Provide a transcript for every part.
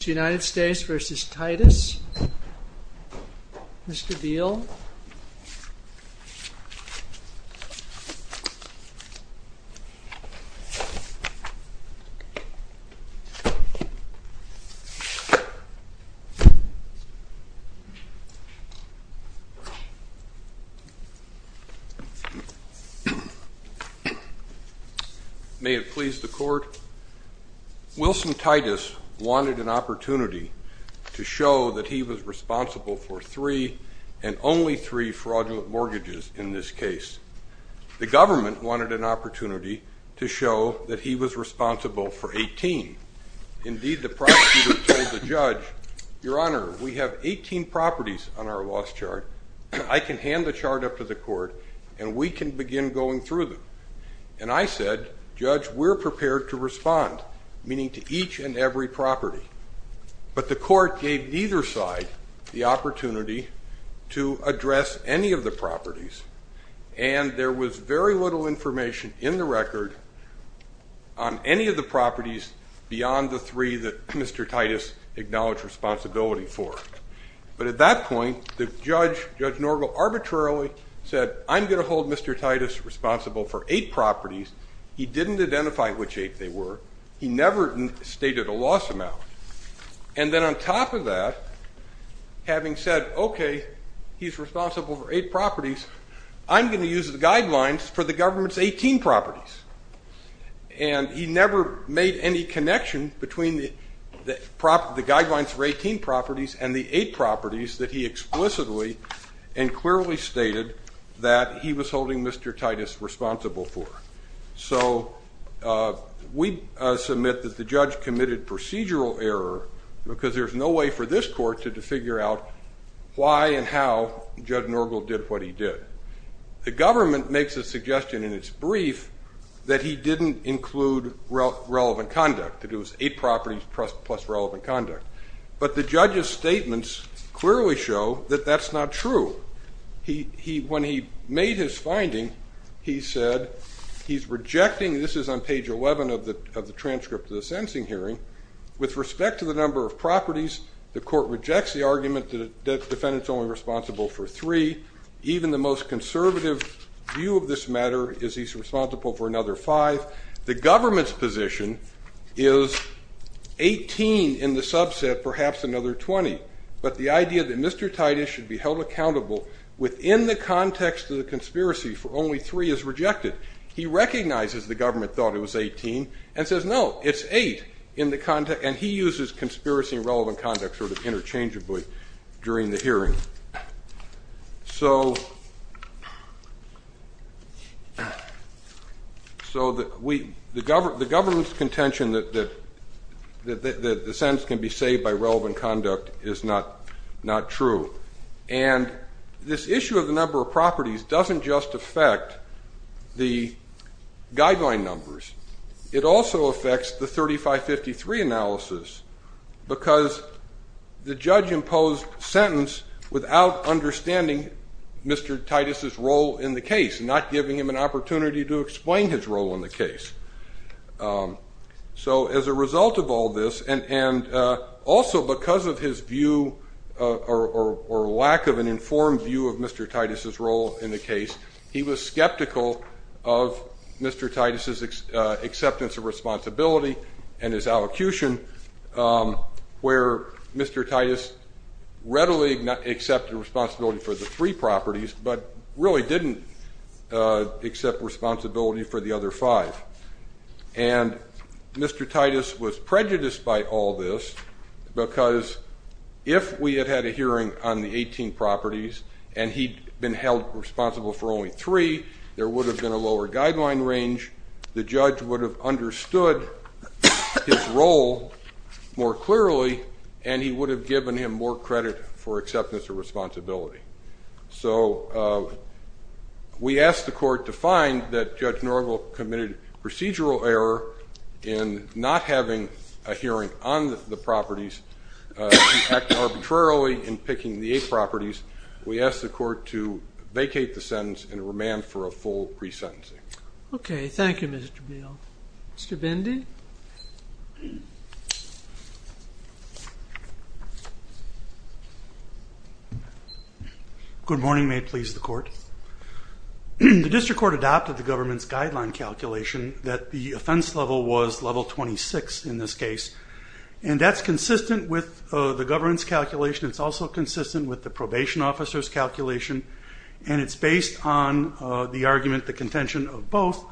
United States v. Titus. Mr. Beal. May it please the court. Wilson Titus wanted an opportunity to show that he was responsible for three and only three fraudulent mortgages in this case. The government wanted an opportunity to show that he was responsible for 18. Indeed the prosecutor told the judge, Your Honor, we have 18 properties on our loss chart. I can hand the chart up to the court and we can begin going through them. And I said, Judge, we're prepared to respond, meaning to each and every property. But the court gave either side the opportunity to address any of the properties and there was very little information in the record on any of the properties beyond the three that Mr. Titus acknowledged responsibility for. But at that point the judge, Judge Norgle, arbitrarily said, I'm going to hold Mr. Titus responsible for eight properties. He didn't identify which eight they were. He never stated a loss amount. And then on top of that, having said, okay, he's responsible for eight properties, I'm going to use the guidelines for the government's 18 properties. And he never made any connection between the guidelines for 18 properties and the eight properties that he explicitly and clearly stated that he was holding Mr. Titus responsible for. So we submit that the judge committed procedural error because there's no way for this court to figure out why and how Judge Norgle did what he did. The government makes a suggestion in its brief that he didn't include relevant conduct, that it was eight properties plus relevant conduct. But the judge's statements clearly show that that's not true. When he made his finding, he said he's rejecting, this is on page 11 of the transcript of the sentencing hearing, with respect to the number of properties, the court rejects the argument that the defendant's only responsible for three. Even the most conservative view of this matter is he's responsible for another five. The government's position is 18 in the subset, perhaps another 20. But the idea that Mr. Titus should be held accountable within the context of the conspiracy for only three is rejected. He recognizes the government thought it was 18 and says no, it's eight in the context, and he uses conspiracy and relevant conduct sort of interchangeably during the hearing. So the government's contention that the this issue of the number of properties doesn't just affect the guideline numbers, it also affects the 3553 analysis, because the judge imposed sentence without understanding Mr. Titus's role in the case, not giving him an opportunity to explain his role in the case. So as a result of all this and also because of his view or lack of an informed view of Mr. Titus's role in the case, he was skeptical of Mr. Titus's acceptance of responsibility and his allocution, where Mr. Titus readily accepted responsibility for the three properties, but really didn't accept responsibility for the other five. And Mr. Titus was prejudiced by all this because if we had had a hearing on the 18 properties and he'd been held responsible for only three, there would have been a lower guideline range, the judge would have understood his role more clearly, and he would have given him more credit for acceptance of responsibility. So we asked the court to find that Judge Norville committed procedural error in not having a hearing on the properties, acting arbitrarily in picking the eight properties, we asked the court to vacate the sentence and remand for a full resentencing. Okay, thank you Mr. Beal. Mr. Bendy? Good morning, may it please the court. The district court adopted the government's guideline calculation that the offense level was level 26 in this case, and that's consistent with the government's calculation, it's also consistent with the probation officer's calculation, and it's based on the argument, the contention of both,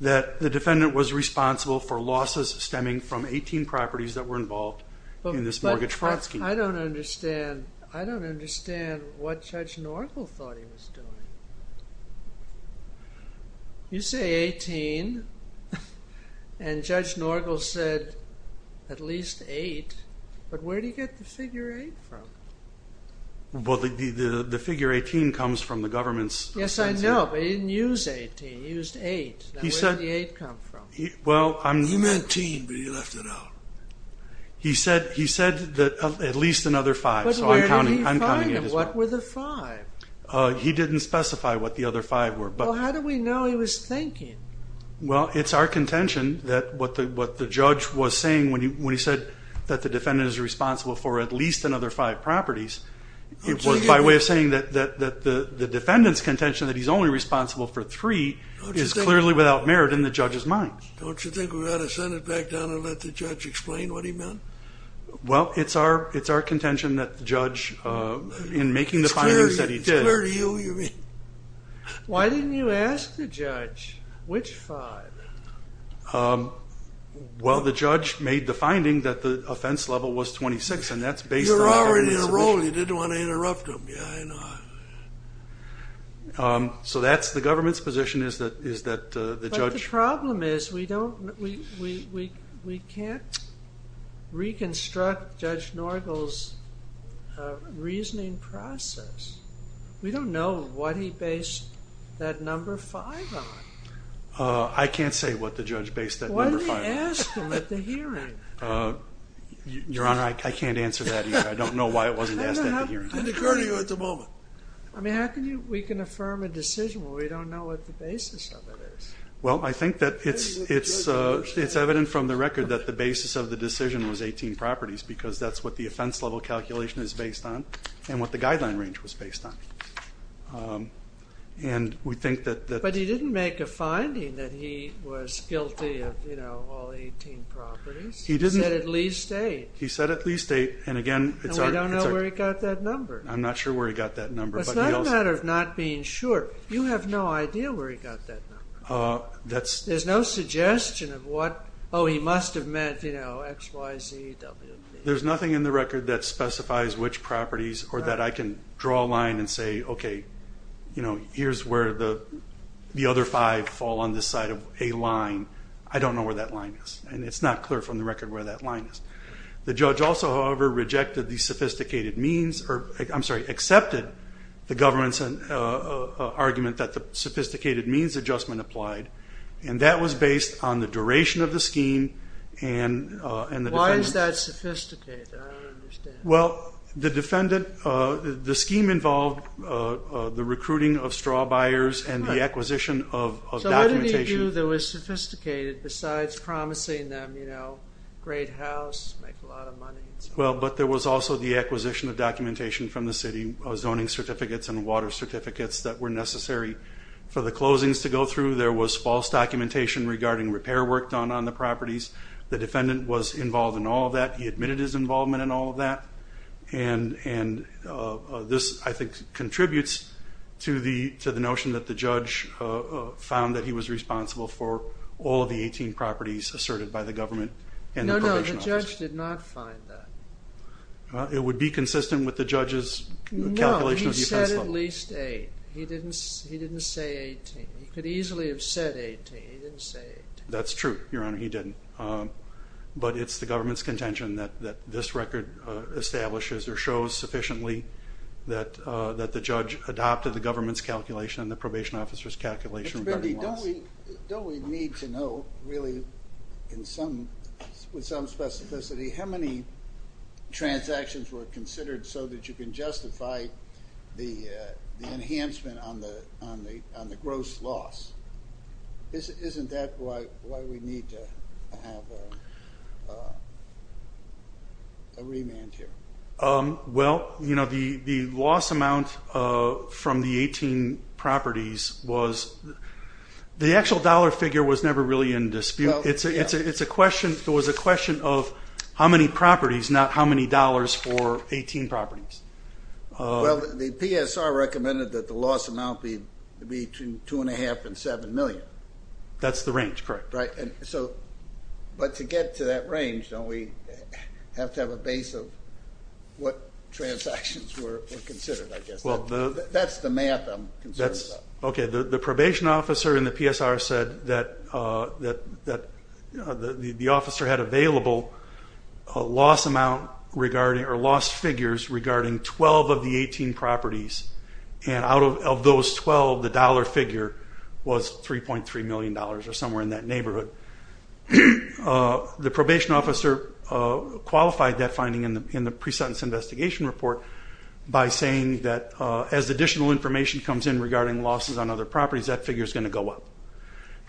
that the defendant was responsible for losses stemming from 18 properties that were involved in this mortgage fraud scheme. I don't understand I don't understand what Judge Norville thought he was doing. You say 18, and Judge Norville said at least eight, but where do you get the figure eight from? Well, the figure 18 comes from the government's... Yes, I know, but he didn't use 18, he used eight. Now, where did the eight come from? He meant teen, but he left it out. He said at least another five. But where did he find them? What were the five? He didn't specify what the other five were. Well, how do we know he was thinking? Well, it's our contention that what the judge was saying when he said that the defendant is responsible for at least another five properties, it was by way of saying that the defendant's contention that he's only responsible for three is clearly without merit in the judge's mind. Don't you think we ought to send it back down and let the judge explain what he meant? Well, it's our contention that the judge, in making the findings that he did... It's clear to you, you mean? Why didn't you ask the judge which five? Well, the judge made the finding that the offense level was 26, and that's based on... You were already in a role, you didn't want to interrupt him, yeah, I know. So that's the government's position, is that the judge... But the problem is we don't, we can't reconstruct Judge Norgel's reasoning process. We don't know what he based that number five on. I can't say what the judge based that number five on. Why didn't he ask him at the hearing? Your Honor, I can't answer that either. I don't know why it wasn't asked at the hearing. It didn't occur to you at the moment? I mean, how can you, we can affirm a decision when we don't know what the basis of it is? Well, I think that it's evident from the record that the basis of the decision was 18 properties, because that's what the offense level calculation is based on, and what the guideline range was based on. And we think that... But he didn't make a finding that he was guilty of, you know, all 18 properties. He said at least eight. He said at least eight, and again... And we don't know where he got that number. I'm not sure where he got that number. It's not a matter of not being sure. You have no idea where he got that number. There's no suggestion of what, oh, he must have meant, you know, X, Y, Z, W, D. There's nothing in the record that specifies which properties, or that I can draw a line and say, okay, you know, here's where the other five fall on this side of a line. I don't know where that line is, and it's not clear from the record where that line is. The judge also, however, rejected the sophisticated means, or I'm sorry, accepted the government's argument that the sophisticated means adjustment applied, and that was based on the duration of the scheme and the defendant's... Why is that sophisticated? I don't understand. Well, the defendant... The scheme involved the recruiting of straw buyers and the acquisition of documentation... Well, but there was also the acquisition of documentation from the city, zoning certificates and water certificates that were necessary for the closings to go through. There was false documentation regarding repair work done on the properties. The defendant was involved in all of that. He admitted his involvement in all of that. And this, I think, contributes to the notion that the judge found that he was responsible for all of the 18 properties asserted by the government and the probation officer. No, no, the judge did not find that. It would be consistent with the judge's calculation of defense level. No, he said at least eight. He didn't say 18. He could easily have said 18. He didn't say 18. That's true, Your Honor. He didn't. But it's the government's contention that this record establishes or shows sufficiently that the judge adopted the government's calculation and the probation officer's calculation regarding loss. Don't we need to know, really, with some specificity, how many transactions were considered so that you can justify the enhancement on the gross loss? Isn't that why we need to have a remand here? Well, you know, the loss amount from the 18 properties was, the actual dollar figure was never really in dispute. It's a question, it was a question of how many properties, not how many dollars for 18 properties. Well, the PSR recommended that the loss amount be between two and a half and seven million. That's the range, correct. But to get to that range, don't we have to have a base of what transactions were considered, I guess? That's the math I'm concerned about. Okay, the probation officer in the PSR said that the officer had available a loss amount regarding, or lost figures regarding 12 of the 18 properties. And out of those 12, the dollar figure was $3.3 million, or somewhere in that neighborhood. The probation officer qualified that finding in the pre-sentence investigation report by saying that as additional information comes in regarding losses on other properties, that figure's going to go up.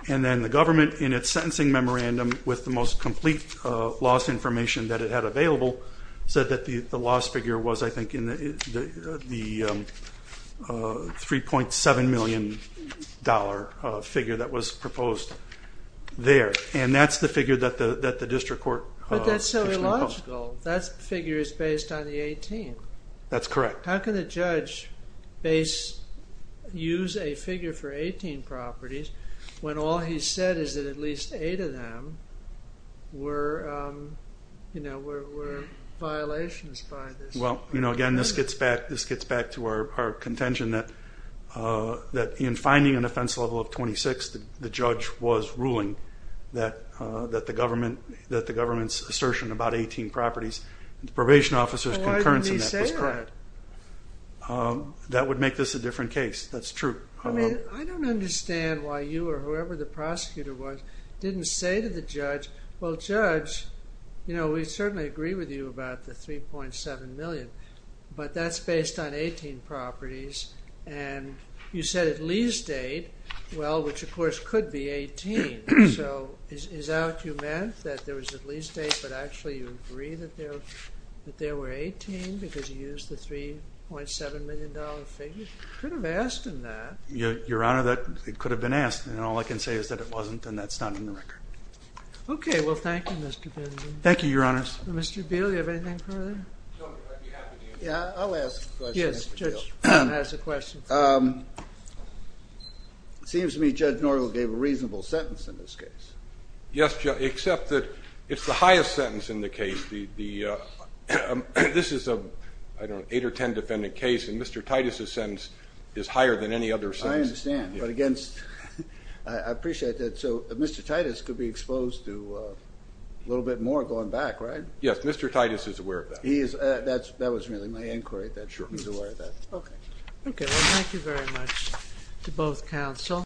And then the government, in its sentencing memorandum, with the most complete loss information that it had available, said that the loss figure was, I think, the $3.7 million figure that was proposed there. And that's the figure that the district court... But that's so illogical. That figure is based on the 18. That's correct. How can a judge use a figure for 18 properties when all he said is that at least 8 of them were violations by this? Well, again, this gets back to our contention that in finding an offense level of 26, the judge was ruling that the government's assertion about 18 properties, the probation officer's concurrence in that was correct. Why would he say that? That would make this a different case. That's true. I don't understand why you or whoever the prosecutor was didn't say to the judge, well, judge, you know, we certainly agree with you about the $3.7 million, but that's based on 18 properties. And you said at least 8, well, which of course could be 18. So is that what you meant, that there was at least 8, but actually you agree that there were 18 because you used the $3.7 million figure? You could have asked him that. Your Honor, that could have been asked. And all I can say is that it wasn't, and that's not in the record. Okay, well, thank you, Mr. Benjamin. Thank you, Your Honor. Mr. Beale, do you have anything further? Yeah, I'll ask a question, Mr. Beale. Yes, the judge has a question. It seems to me Judge Norville gave a reasonable sentence in this case. Yes, except that it's the highest sentence in the case. This is an 8 or 10 defendant case, and Mr. Titus' sentence is higher than any other sentence. I understand, but against, I appreciate that. So Mr. Titus could be exposed to a little bit more going back, right? Yes, Mr. Titus is aware of that. That was really my inquiry, that he's aware of that. Okay. Okay, well, thank you very much to both counsel.